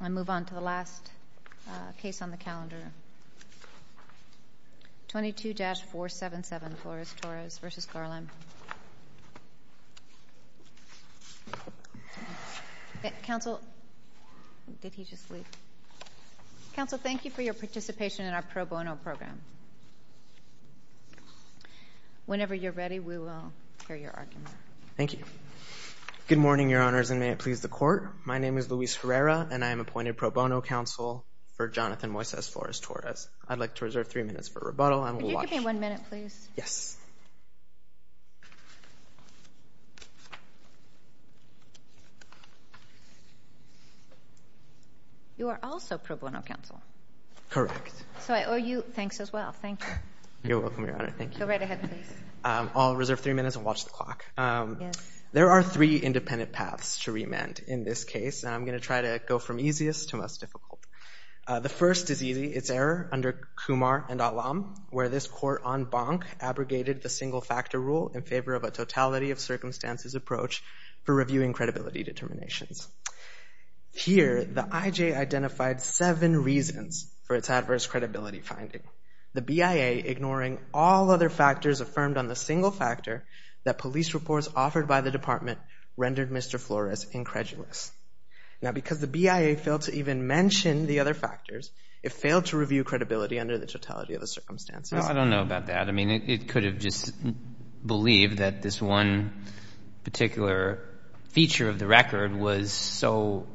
I move on to the last case on the calendar, 22-477 Flores-Torres v. Garland. Counsel, did he just leave? Counsel, thank you for your participation in our pro bono program. Whenever you're ready, we will hear your argument. Thank you. Good morning, Your Honors, and may it please the Court. My name is Luis Herrera, and I am appointed pro bono counsel for Jonathan Moises Flores-Torres. I'd like to reserve three minutes for rebuttal. Could you give me one minute, please? Yes. You are also pro bono counsel. Correct. So I owe you thanks as well. Thank you. You're welcome, Your Honor. Thank you. Go right ahead, please. I'll reserve three minutes and watch the clock. There are three independent paths to remand in this case, and I'm going to try to go from easiest to most difficult. The first is easy. It's error under Kumar and Alam, where this court on Bonk abrogated the single-factor rule in favor of a totality-of-circumstances approach for reviewing credibility determinations. Here, the IJ identified seven reasons for its adverse credibility finding. The BIA, ignoring all other factors affirmed on the single factor, that police reports offered by the Department rendered Mr. Flores incredulous. Now, because the BIA failed to even mention the other factors, it failed to review credibility under the totality-of-circumstances. Well, I don't know about that. I mean, it could have just believed that this one particular feature of the record was so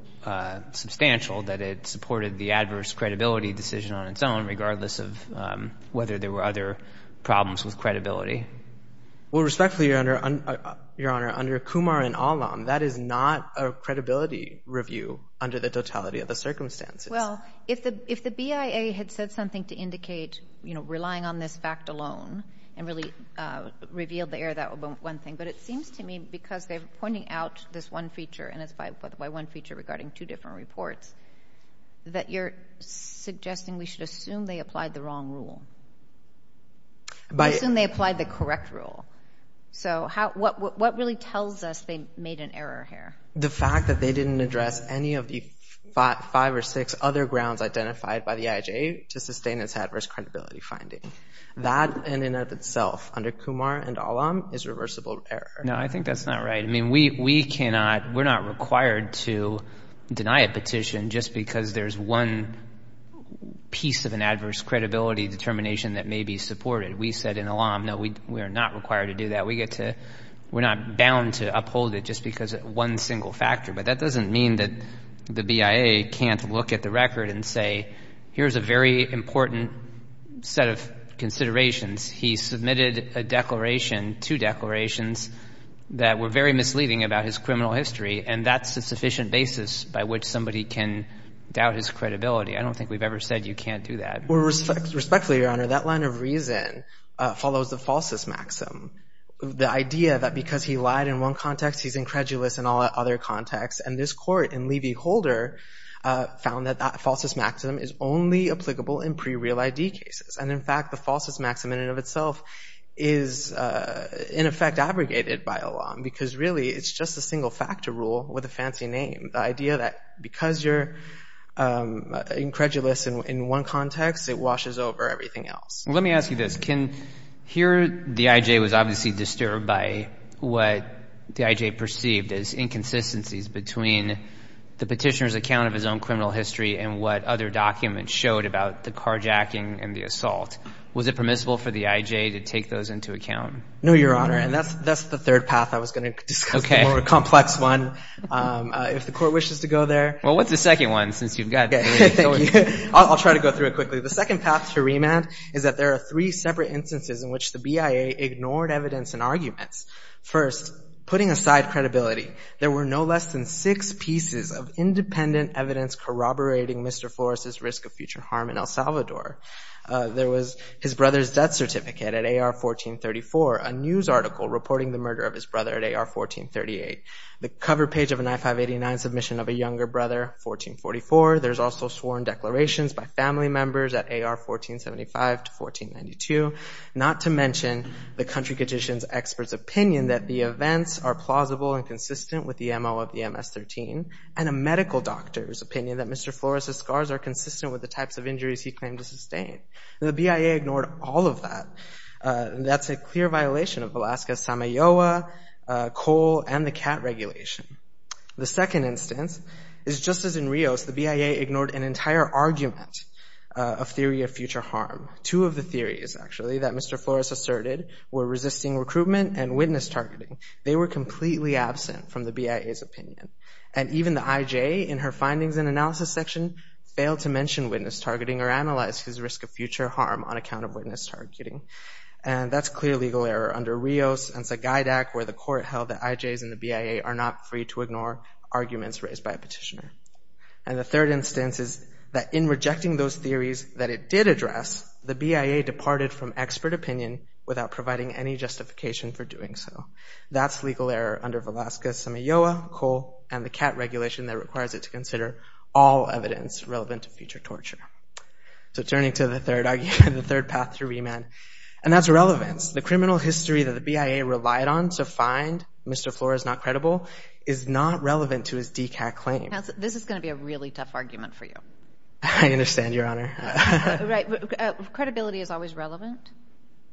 substantial that it supported the adverse credibility decision on its own, regardless of whether there were other problems with credibility. Well, respectfully, Your Honor, under Kumar and Alam, that is not a credibility review under the totality-of-the-circumstances. Well, if the BIA had said something to indicate, you know, relying on this fact alone and really revealed the error, that would be one thing. But it seems to me, because they're pointing out this one feature, and it's by one feature regarding two different reports, that you're suggesting we should assume they applied the wrong rule. Assume they applied the correct rule. So what really tells us they made an error here? The fact that they didn't address any of the five or six other grounds identified by the IHA to sustain its adverse credibility finding. That, in and of itself, under Kumar and Alam, is reversible error. No, I think that's not right. I mean, we cannot, we're not required to deny a petition just because there's one piece of an adverse credibility determination that may be supported. We said in Alam, no, we are not required to do that. We're not bound to uphold it just because of one single factor. But that doesn't mean that the BIA can't look at the record and say, here's a very important set of considerations. He submitted a declaration, two declarations, that were very misleading about his criminal history, and that's a sufficient basis by which somebody can doubt his credibility. I don't think we've ever said you can't do that. Well, respectfully, Your Honor, that line of reason follows the falsus maxim, the idea that because he lied in one context, he's incredulous in all other contexts. And this court in Levy-Holder found that that falsus maxim is only applicable in pre-real ID cases. And, in fact, the falsus maxim in and of itself is, in effect, abrogated by Alam, because really it's just a single factor rule with a fancy name. The idea that because you're incredulous in one context, it washes over everything else. Well, let me ask you this. Here the IJ was obviously disturbed by what the IJ perceived as inconsistencies between the petitioner's account of his own criminal history and what other documents showed about the carjacking and the assault. Was it permissible for the IJ to take those into account? No, Your Honor, and that's the third path I was going to discuss, the more complex one. If the court wishes to go there. Well, what's the second one since you've got three? I'll try to go through it quickly. The second path to remand is that there are three separate instances in which the BIA ignored evidence and arguments. First, putting aside credibility, there were no less than six pieces of independent evidence corroborating Mr. Flores' risk of future harm in El Salvador. There was his brother's death certificate at AR-1434, a news article reporting the murder of his brother at AR-1438, the cover page of an I-589 submission of a younger brother, 1444. There's also sworn declarations by family members at AR-1475 to 1492, not to mention the country petitioner's expert's opinion that the events are plausible and consistent with the MO of the MS-13 and a medical doctor's opinion that Mr. Flores' scars are consistent with the types of injuries he claimed to sustain. The BIA ignored all of that. That's a clear violation of Alaska's SAMAYOA, COAL, and the CAT regulation. The second instance is just as in Rios, the BIA ignored an entire argument of theory of future harm. Two of the theories, actually, that Mr. Flores asserted were resisting recruitment and witness targeting. They were completely absent from the BIA's opinion. And even the IJ in her findings and analysis section failed to mention witness targeting or analyze his risk of future harm on account of witness targeting. And that's clear legal error under Rios and Sagaidak, where the court held that IJs and the BIA are not free to ignore arguments raised by a petitioner. And the third instance is that in rejecting those theories that it did address, the BIA departed from expert opinion without providing any justification for doing so. That's legal error under Alaska's SAMAYOA, COAL, and the CAT regulation that requires it to consider all evidence relevant to future torture. So turning to the third argument, the third path through remand, and that's relevance. The criminal history that the BIA relied on to find Mr. Flores not credible is not relevant to his DCAT claim. This is going to be a really tough argument for you. I understand, Your Honor. Credibility is always relevant?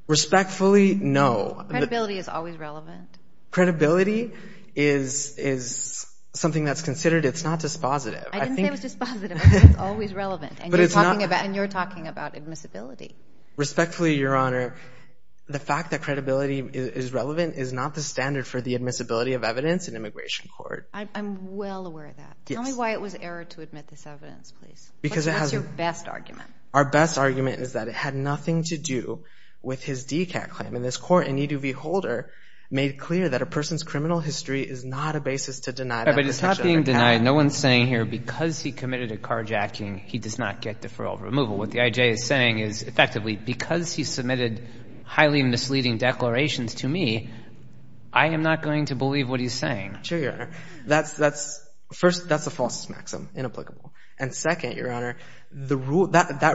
Respectfully, no. Credibility is always relevant? Credibility is something that's considered. It's not dispositive. I didn't say it was dispositive. I said it's always relevant. And you're talking about admissibility. Respectfully, Your Honor, the fact that credibility is relevant is not the standard for the admissibility of evidence in immigration court. I'm well aware of that. Tell me why it was error to admit this evidence, please. What's your best argument? Our best argument is that it had nothing to do with his DCAT claim. And this court in E2V Holder made clear that a person's criminal history is not a basis to deny them protection. But it's not being denied. No one's saying here because he committed a carjacking, he does not get deferral removal. What the IJ is saying is, effectively, because he submitted highly misleading declarations to me, I am not going to believe what he's saying. Sure, Your Honor. First, that's a false maxim, inapplicable. And second, Your Honor, that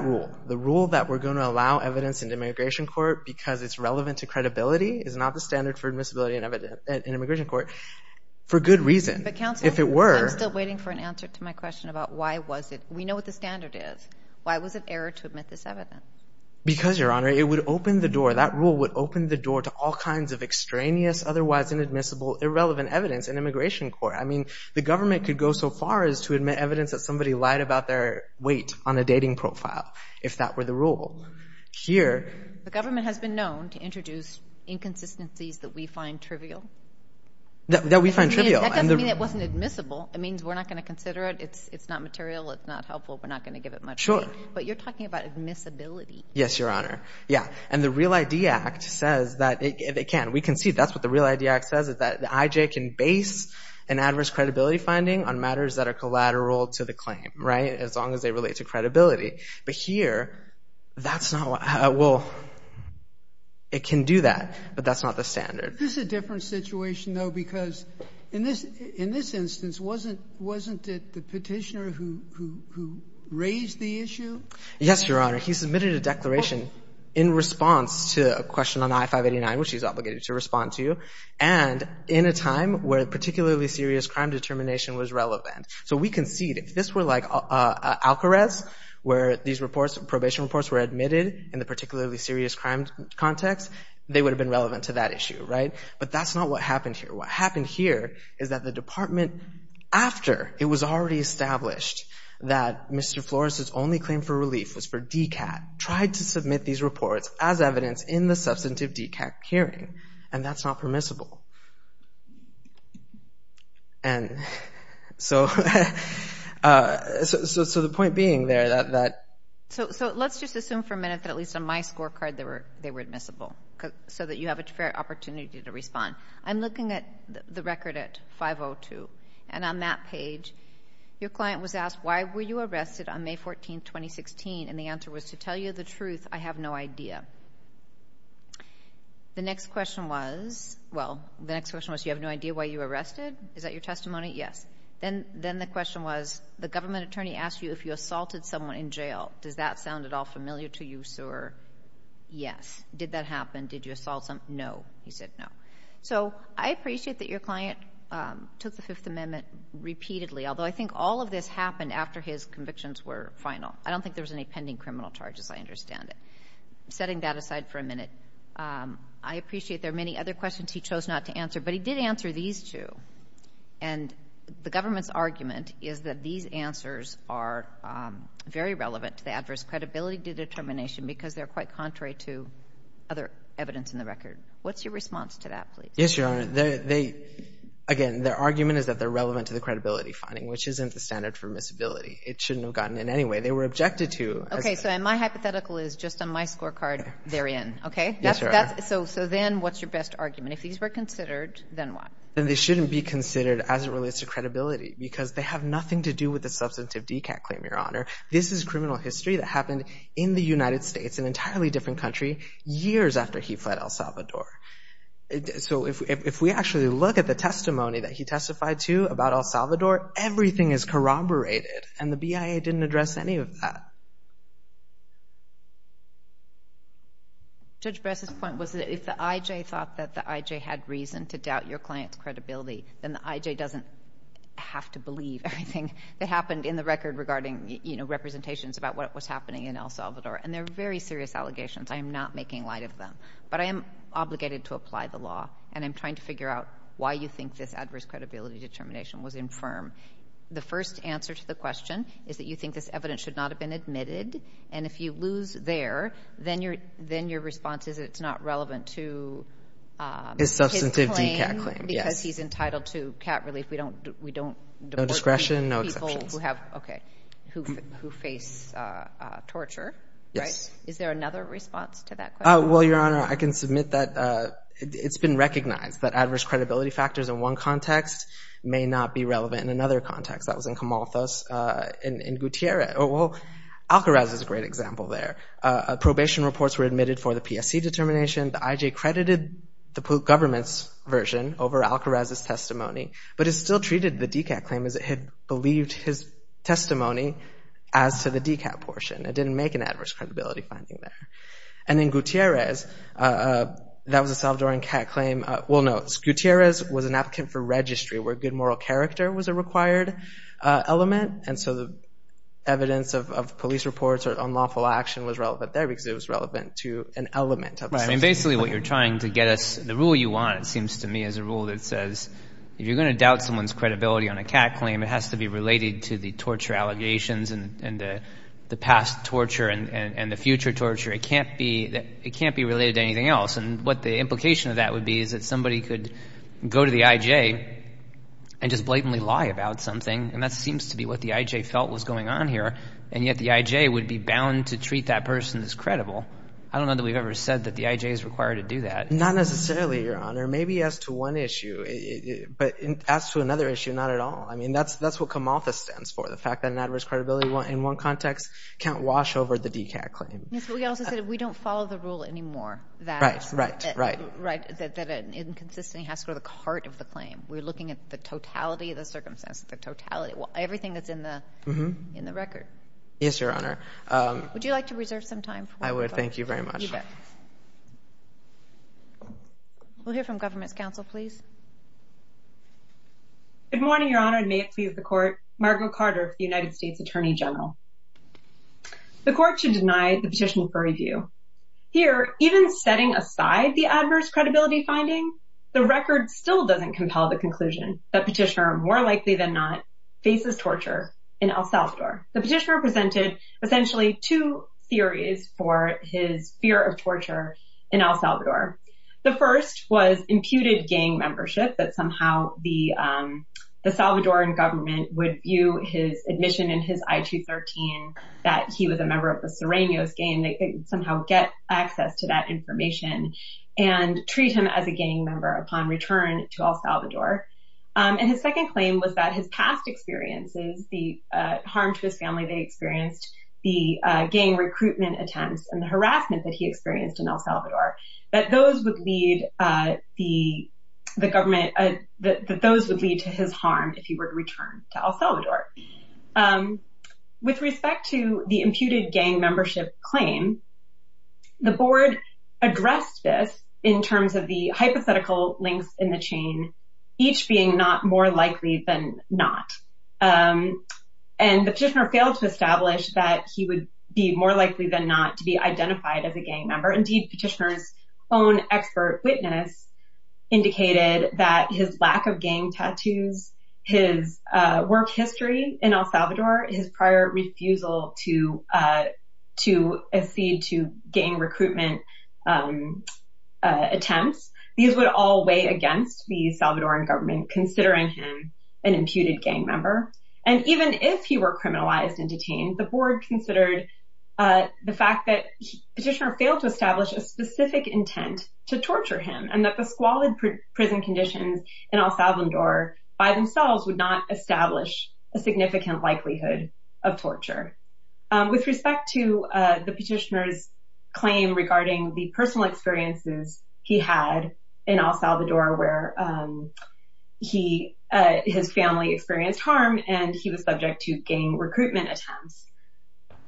rule, the rule that we're going to allow evidence in immigration court because it's relevant to credibility is not the standard for admissibility in immigration court for good reason. But counsel, I'm still waiting for an answer to my question about why was it? We know what the standard is. Why was it error to admit this evidence? Because, Your Honor, it would open the door. That rule would open the door to all kinds of extraneous, otherwise inadmissible, irrelevant evidence in immigration court. I mean, the government could go so far as to admit evidence that somebody lied about their weight on a dating profile if that were the rule. Here, the government has been known to introduce inconsistencies that we find trivial. That we find trivial. That doesn't mean it wasn't admissible. It means we're not going to consider it. It's not material. It's not helpful. We're not going to give it much weight. Sure. But you're talking about admissibility. Yes, Your Honor. Yeah. And the REAL ID Act says that it can. We can see that's what the REAL ID Act says, that the IJ can base an adverse credibility finding on matters that are collateral to the claim, right, as long as they relate to credibility. But here, that's not what, well, it can do that. But that's not the standard. This is a different situation, though, because in this instance, wasn't it the petitioner who raised the issue? Yes, Your Honor. He submitted a declaration in response to a question on I-589, which he's obligated to respond to, and in a time where particularly serious crime determination was relevant. So we concede, if this were like Alcarez, where these reports, probation reports, were admitted in the particularly serious crime context, they would have been relevant to that issue, right? But that's not what happened here. What happened here is that the department, after it was already established that Mr. Flores' only claim for relief was for DCAT, tried to submit these reports as evidence in the substantive DCAT hearing, and that's not permissible. And so the point being there that— So let's just assume for a minute that at least on my scorecard they were admissible so that you have a fair opportunity to respond. I'm looking at the record at 502, and on that page, your client was asked, why were you arrested on May 14, 2016? And the answer was, to tell you the truth, I have no idea. The next question was, well, the next question was, you have no idea why you were arrested? Is that your testimony? Yes. Then the question was, the government attorney asked you if you assaulted someone in jail. Does that sound at all familiar to you, sir? Yes. Did that happen? Did you assault someone? No. He said no. So I appreciate that your client took the Fifth Amendment repeatedly, although I think all of this happened after his convictions were final. I don't think there was any pending criminal charges. I understand it. Setting that aside for a minute, I appreciate there are many other questions he chose not to answer, but he did answer these two. And the government's argument is that these answers are very relevant to the adverse credibility determination because they're quite contrary to other evidence in the record. What's your response to that, please? Yes, Your Honor. Again, their argument is that they're relevant to the credibility finding, which isn't the standard for miscibility. It shouldn't have gotten in anyway. They were objected to. Okay. So my hypothetical is, just on my scorecard, they're in, okay? Yes, Your Honor. So then what's your best argument? If these were considered, then what? Then they shouldn't be considered as it relates to credibility because they have nothing to do with the substantive DCAT claim, Your Honor. This is criminal history that happened in the United States, an entirely different country, years after he fled El Salvador. So if we actually look at the testimony that he testified to about El Salvador, everything is corroborated, and the BIA didn't address any of that. Judge Bress's point was that if the IJ thought that the IJ had reason to doubt your client's credibility, then the IJ doesn't have to believe everything that happened in the record regarding representations about what was happening in El Salvador. And they're very serious allegations. I am not making light of them. But I am obligated to apply the law, and I'm trying to figure out why you think this adverse credibility determination was infirm. The first answer to the question is that you think this evidence should not have been admitted, and if you lose there, then your response is it's not relevant to his claim because he's entitled to cat relief. We don't deport people who face torture. Is there another response to that question? Well, Your Honor, I can submit that it's been recognized that adverse credibility factors in one context may not be relevant in another context. That was in Camalthos in Gutierrez. Alcaraz is a great example there. Probation reports were admitted for the PSC determination. The IJ credited the government's version over Alcaraz's testimony, but it still treated the DCAT claim as it had believed his testimony as to the DCAT portion. It didn't make an adverse credibility finding there. And in Gutierrez, that was a Salvadoran cat claim. Well, no, Gutierrez was an applicant for registry where good moral character was a required element, and so the evidence of police reports or unlawful action was relevant there because it was relevant to an element. Right. I mean, basically what you're trying to get us, the rule you want, it seems to me, is a rule that says if you're going to doubt someone's credibility on a cat claim, it has to be related to the torture allegations and the past torture and the future torture. It can't be related to anything else. And what the implication of that would be is that somebody could go to the IJ and just blatantly lie about something, and that seems to be what the IJ felt was going on here, and yet the IJ would be bound to treat that person as credible. I don't know that we've ever said that the IJ is required to do that. Not necessarily, Your Honor. Maybe as to one issue, but as to another issue, not at all. I mean, that's what CAMALFAS stands for, the fact that an adverse credibility in one context can't wash over the DCAT claim. Yes, but we also said we don't follow the rule anymore that an inconsistency has to go to the heart of the claim. We're looking at the totality of the circumstances, the totality, everything that's in the record. Yes, Your Honor. Would you like to reserve some time? I would. Thank you very much. You bet. We'll hear from Government's Counsel, please. Good morning, Your Honor, and may it please the Court. Margo Carter, United States Attorney General. The Court should deny the petition for review. Here, even setting aside the adverse credibility finding, the record still doesn't compel the conclusion that Petitioner, more likely than not, faces torture in El Salvador. The petitioner presented essentially two theories for his fear of torture in El Salvador. The first was imputed gang membership, that somehow the Salvadoran government would view his admission in his I-213 that he was a member of the Sirenios gang, and somehow get access to that information, and treat him as a gang member upon return to El Salvador. And his second claim was that his past experiences, the harm to his family they experienced, the gang recruitment attempts, and the harassment that he experienced in El Salvador, that those would lead the government, that those would lead to his harm if he were to return to El Salvador. With respect to the imputed gang membership claim, the Board addressed this in terms of the hypothetical links in the chain, each being not more likely than not. And the petitioner failed to establish that he would be more likely than not to be identified as a gang member. Indeed, Petitioner's own expert witness indicated that his lack of gang tattoos, his work history in El Salvador, his prior refusal to accede to gang recruitment attempts, these would all weigh against the Salvadoran government considering him an imputed gang member. And even if he were criminalized and detained, the Board considered the fact that Petitioner failed to establish a specific intent to torture him, and that the squalid prison conditions in El Salvador by themselves would not establish a significant likelihood of torture. With respect to the petitioner's claim regarding the personal experiences he had in El Salvador where his family experienced harm and he was subject to gang recruitment attempts,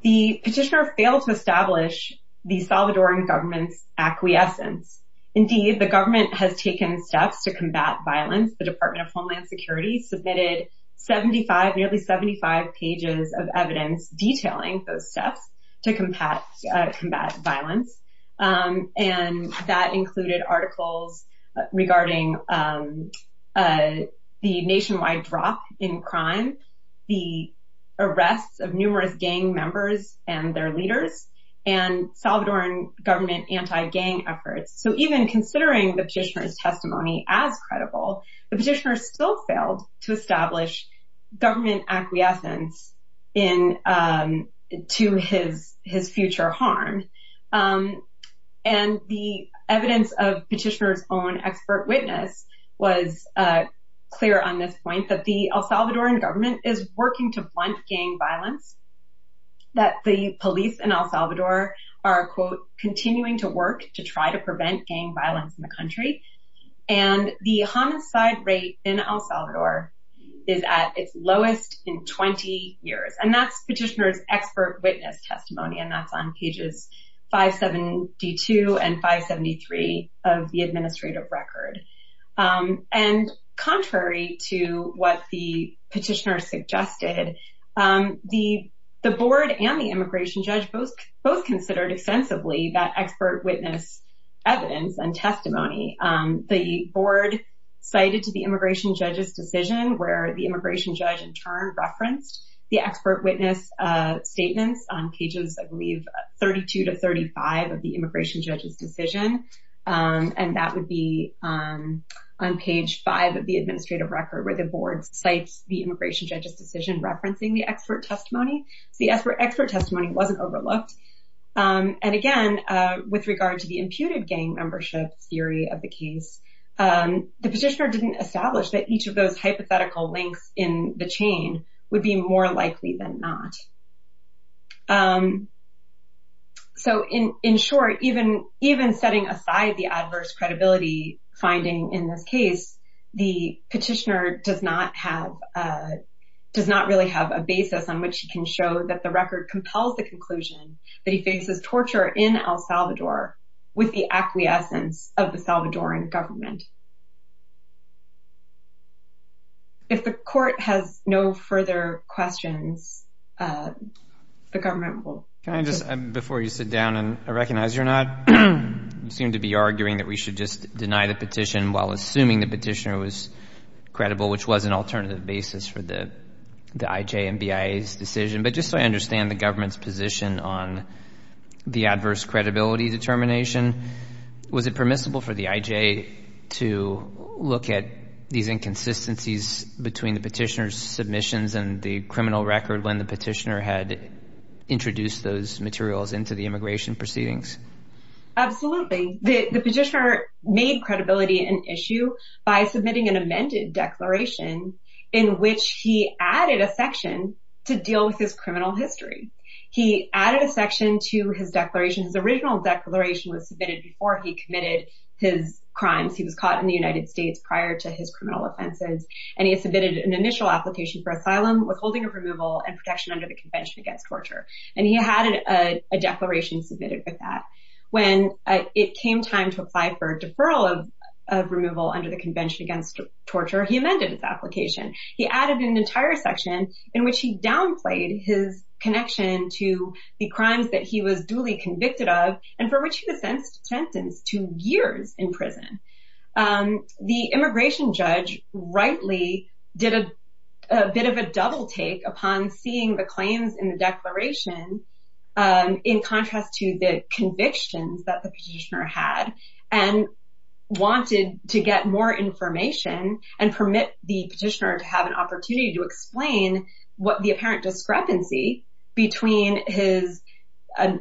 the petitioner failed to establish the Salvadoran government's acquiescence. Indeed, the government has taken steps to combat violence. The Department of Homeland Security submitted 75, nearly 75 pages of evidence detailing those steps to combat violence. And that included articles regarding the nationwide drop in crime, the arrests of numerous gang members and their leaders, and Salvadoran government anti-gang efforts. So even considering the petitioner's testimony as credible, the petitioner still failed to establish government acquiescence to his future harm. And the evidence of Petitioner's own expert witness was clear on this point, that the El Salvadoran government is working to blunt gang violence, that the police in El Salvador are, quote, continuing to work to try to prevent gang violence in the country, and the homicide rate in El Salvador is at its lowest in 20 years. And that's Petitioner's expert witness testimony, and that's on pages 572 and 573 of the administrative record. And contrary to what the petitioner suggested, the board and the immigration judge both considered extensively that expert witness evidence and testimony. The board cited to the immigration judge's decision, where the immigration judge in turn referenced the expert witness statements on pages, I believe, 32 to 35 of the immigration judge's decision, and that would be on page five of the administrative record, where the board cites the immigration judge's decision referencing the expert testimony. So the expert testimony wasn't overlooked. And again, with regard to the imputed gang membership theory of the case, the petitioner didn't establish that each of those hypothetical links in the chain would be more likely than not. So in short, even setting aside the adverse credibility finding in this case, the petitioner does not really have a basis on which he can show that the record compels the conclusion that he faces torture in El Salvador with the acquiescence of the Salvadoran government. If the court has no further questions, the government will... Can I just, before you sit down, and I recognize you're not, you seem to be arguing that we should just deny the petition while assuming the petitioner was credible, which was an alternative basis for the IJ and BIA's decision, but just so I understand the government's position on the adverse credibility determination, was it permissible for the IJ to look at these inconsistencies between the petitioner's submissions and the criminal record when the petitioner had introduced those materials into the immigration proceedings? Absolutely. The petitioner made credibility an issue by submitting an amended declaration in which he added a section to deal with his criminal history. He added a section to his declaration. His original declaration was submitted before he committed his crimes. He was caught in the United States prior to his criminal offenses, and he had submitted an initial application for asylum, withholding of removal, and protection under the Convention Against Torture. And he had a declaration submitted with that. When it came time to apply for deferral of removal under the Convention Against Torture, he amended his application. He added an entire section in which he downplayed his connection to the crimes that he was duly convicted of, and for which he was sentenced to years in prison. The immigration judge rightly did a bit of a double-take upon seeing the claims in the declaration in contrast to the convictions that the petitioner had, and wanted to get more information and permit the petitioner to have an opportunity to explain the apparent discrepancy between his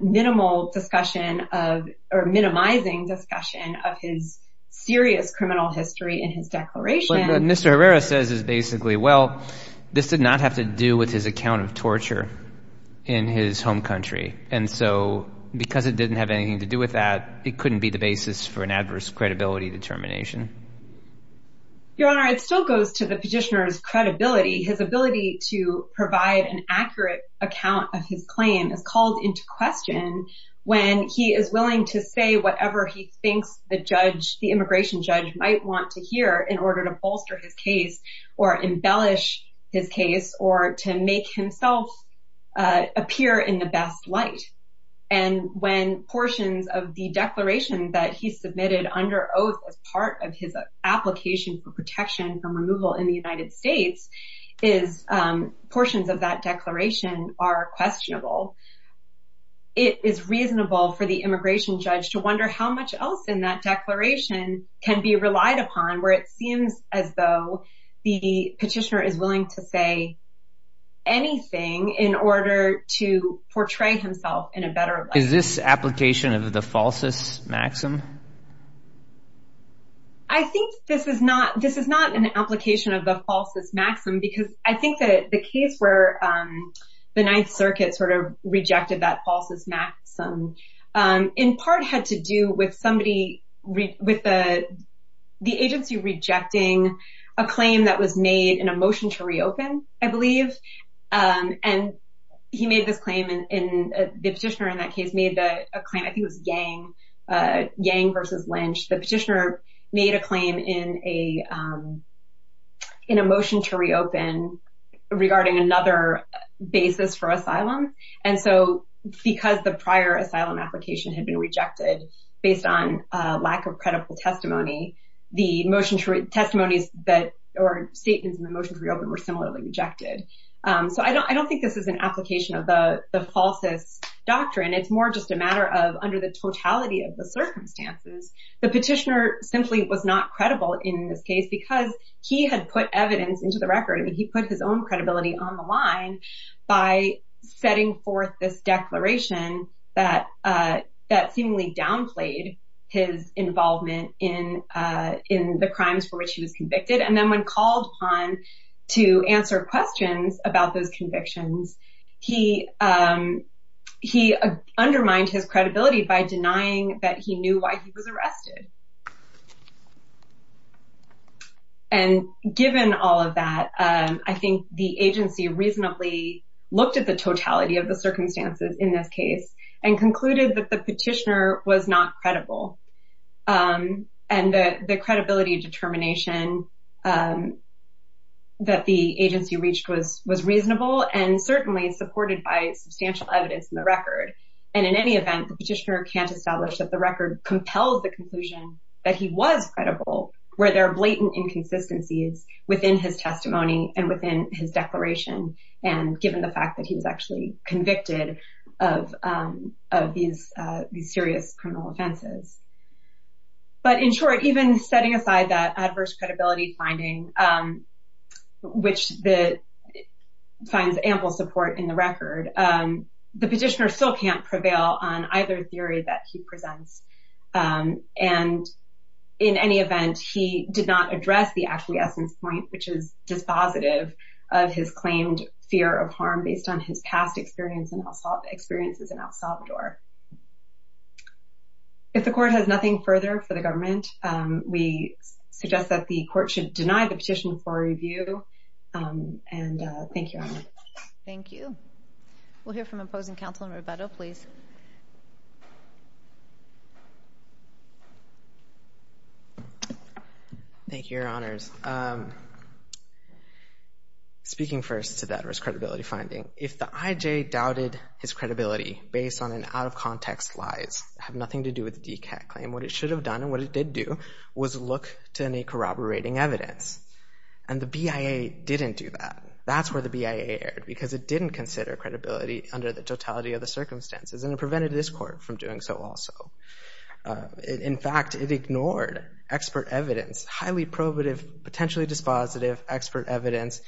minimal discussion of, or minimizing discussion, of his serious criminal history in his declaration. What Mr. Herrera says is basically, well, this did not have to do with his account of torture in his home country. And so because it didn't have anything to do with that, it couldn't be the basis for an adverse credibility determination. Your Honor, it still goes to the petitioner's credibility. His ability to provide an accurate account of his claim is called into question when he is willing to say whatever he thinks the judge, the immigration judge, might want to hear in order to bolster his case or embellish his case or to make himself appear in the best light. And when portions of the declaration that he submitted under oath as part of his application for protection from removal in the United States, portions of that declaration are questionable. It is reasonable for the immigration judge to wonder how much else in that declaration can be relied upon where it seems as though the petitioner is willing to say anything in order to portray himself in a better light. Is this application of the falsus maxim? I think this is not an application of the falsus maxim because I think that the case where the Ninth Circuit rejected that falsus maxim in part had to do with the agency rejecting a claim that was made in a motion to reopen, I believe. And he made this claim and the petitioner in that case made a claim. I think it was Yang versus Lynch. The petitioner made a claim in a motion to reopen regarding another basis for asylum. And so because the prior asylum application had been rejected based on lack of credible testimony, the motion to read testimonies or statements in the motion to reopen were similarly rejected. So I don't think this is an application of the falsus doctrine. It's more just a matter of under the totality of the circumstances, the petitioner simply was not credible in this case because he had put evidence into the record. I mean, he put his own credibility on the line by setting forth this declaration that seemingly downplayed his involvement in the crimes for which he was convicted. And then when called upon to answer questions about those convictions, he undermined his credibility by denying that he knew why he was arrested. And given all of that, I think the agency reasonably looked at the totality of the circumstances in this case and concluded that the petitioner was not credible and that the credibility determination that the agency reached was reasonable and certainly supported by substantial evidence in the record. And in any event, the petitioner can't establish that the record compels the conclusion that he was credible where there are blatant inconsistencies within his testimony and within his declaration, and given the fact that he was actually convicted of these serious criminal offenses. But in short, even setting aside that adverse credibility finding, which finds ample support in the record, the petitioner still can't prevail on either theory that he presents. And in any event, he did not address the actual essence point, which is dispositive of his claimed fear of harm based on his past experiences in El Salvador. If the court has nothing further for the government, we suggest that the court should deny the petition for review. And thank you. Thank you. We'll hear from opposing counsel in Roberto, please. Thank you, Your Honors. Speaking first to the adverse credibility finding, if the IJ doubted his credibility based on an out-of-context lies, have nothing to do with the DCAT claim, what it should have done and what it did do was look to any corroborating evidence. And the BIA didn't do that. That's where the BIA erred because it didn't consider credibility under the totality of the circumstances and it prevented this court from doing so also. In fact, it ignored expert evidence, highly probative, potentially dispositive expert evidence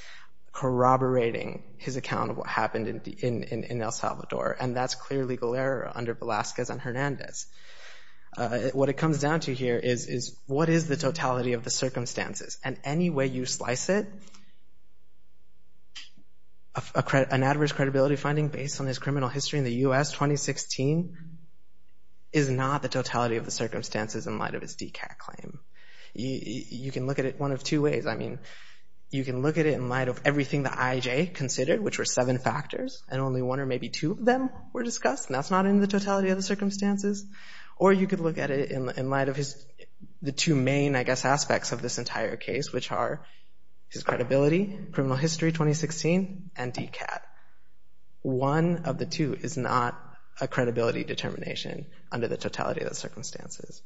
corroborating his account of what happened in El Salvador. And that's clear legal error under Velazquez and Hernandez. What it comes down to here is what is the totality of the circumstances? And any way you slice it, an adverse credibility finding based on his criminal history in the U.S., 2016, is not the totality of the circumstances in light of his DCAT claim. You can look at it one of two ways. I mean, you can look at it in light of everything the IJ considered, which were seven factors, and only one or maybe two of them were discussed, and that's not in the totality of the circumstances. Or you could look at it in light of his... which are his credibility, criminal history, 2016, and DCAT. One of the two is not a credibility determination under the totality of the circumstances.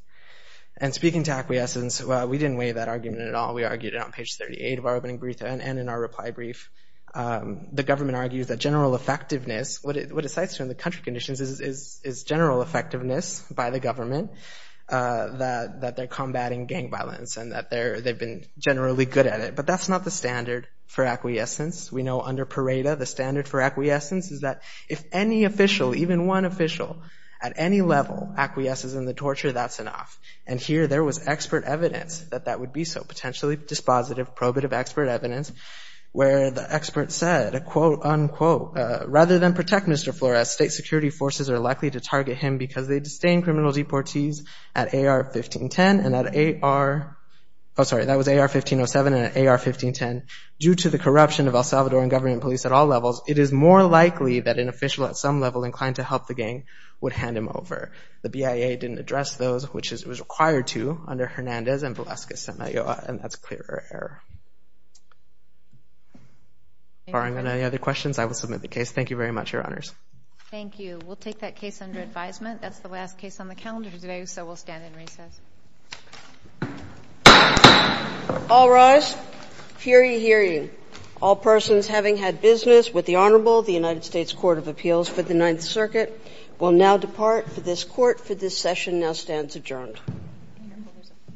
And speaking to acquiescence, we didn't weigh that argument at all. We argued it on page 38 of our opening brief and in our reply brief. The government argues that general effectiveness... What it cites from the country conditions is general effectiveness by the government, that they're combating gang violence and that they've been generally good at it. But that's not the standard for acquiescence. We know under Pareto, the standard for acquiescence is that if any official, even one official, at any level acquiesces in the torture, that's enough. And here there was expert evidence that that would be so. Potentially dispositive, probative expert evidence where the expert said, quote, unquote, rather than protect Mr. Flores, state security forces are likely to target him because they disdain criminal deportees at AR-1510 and at AR... Oh, sorry, that was AR-1507 and at AR-1510. Due to the corruption of El Salvadoran government police at all levels, it is more likely that an official at some level inclined to help the gang would hand him over. The BIA didn't address those, which it was required to, under Hernandez and Velazquez-Semilloa, and that's a clear error. Barring any other questions, I will submit the case. Thank you very much, Your Honors. Thank you. We'll take that case under advisement. That's the last case on the calendar today, so we'll stand in recess. All rise. Fury hearing. All persons having had business with the Honorable of the United States Court of Appeals for the Ninth Circuit will now depart for this court for this session. Now stands adjourned.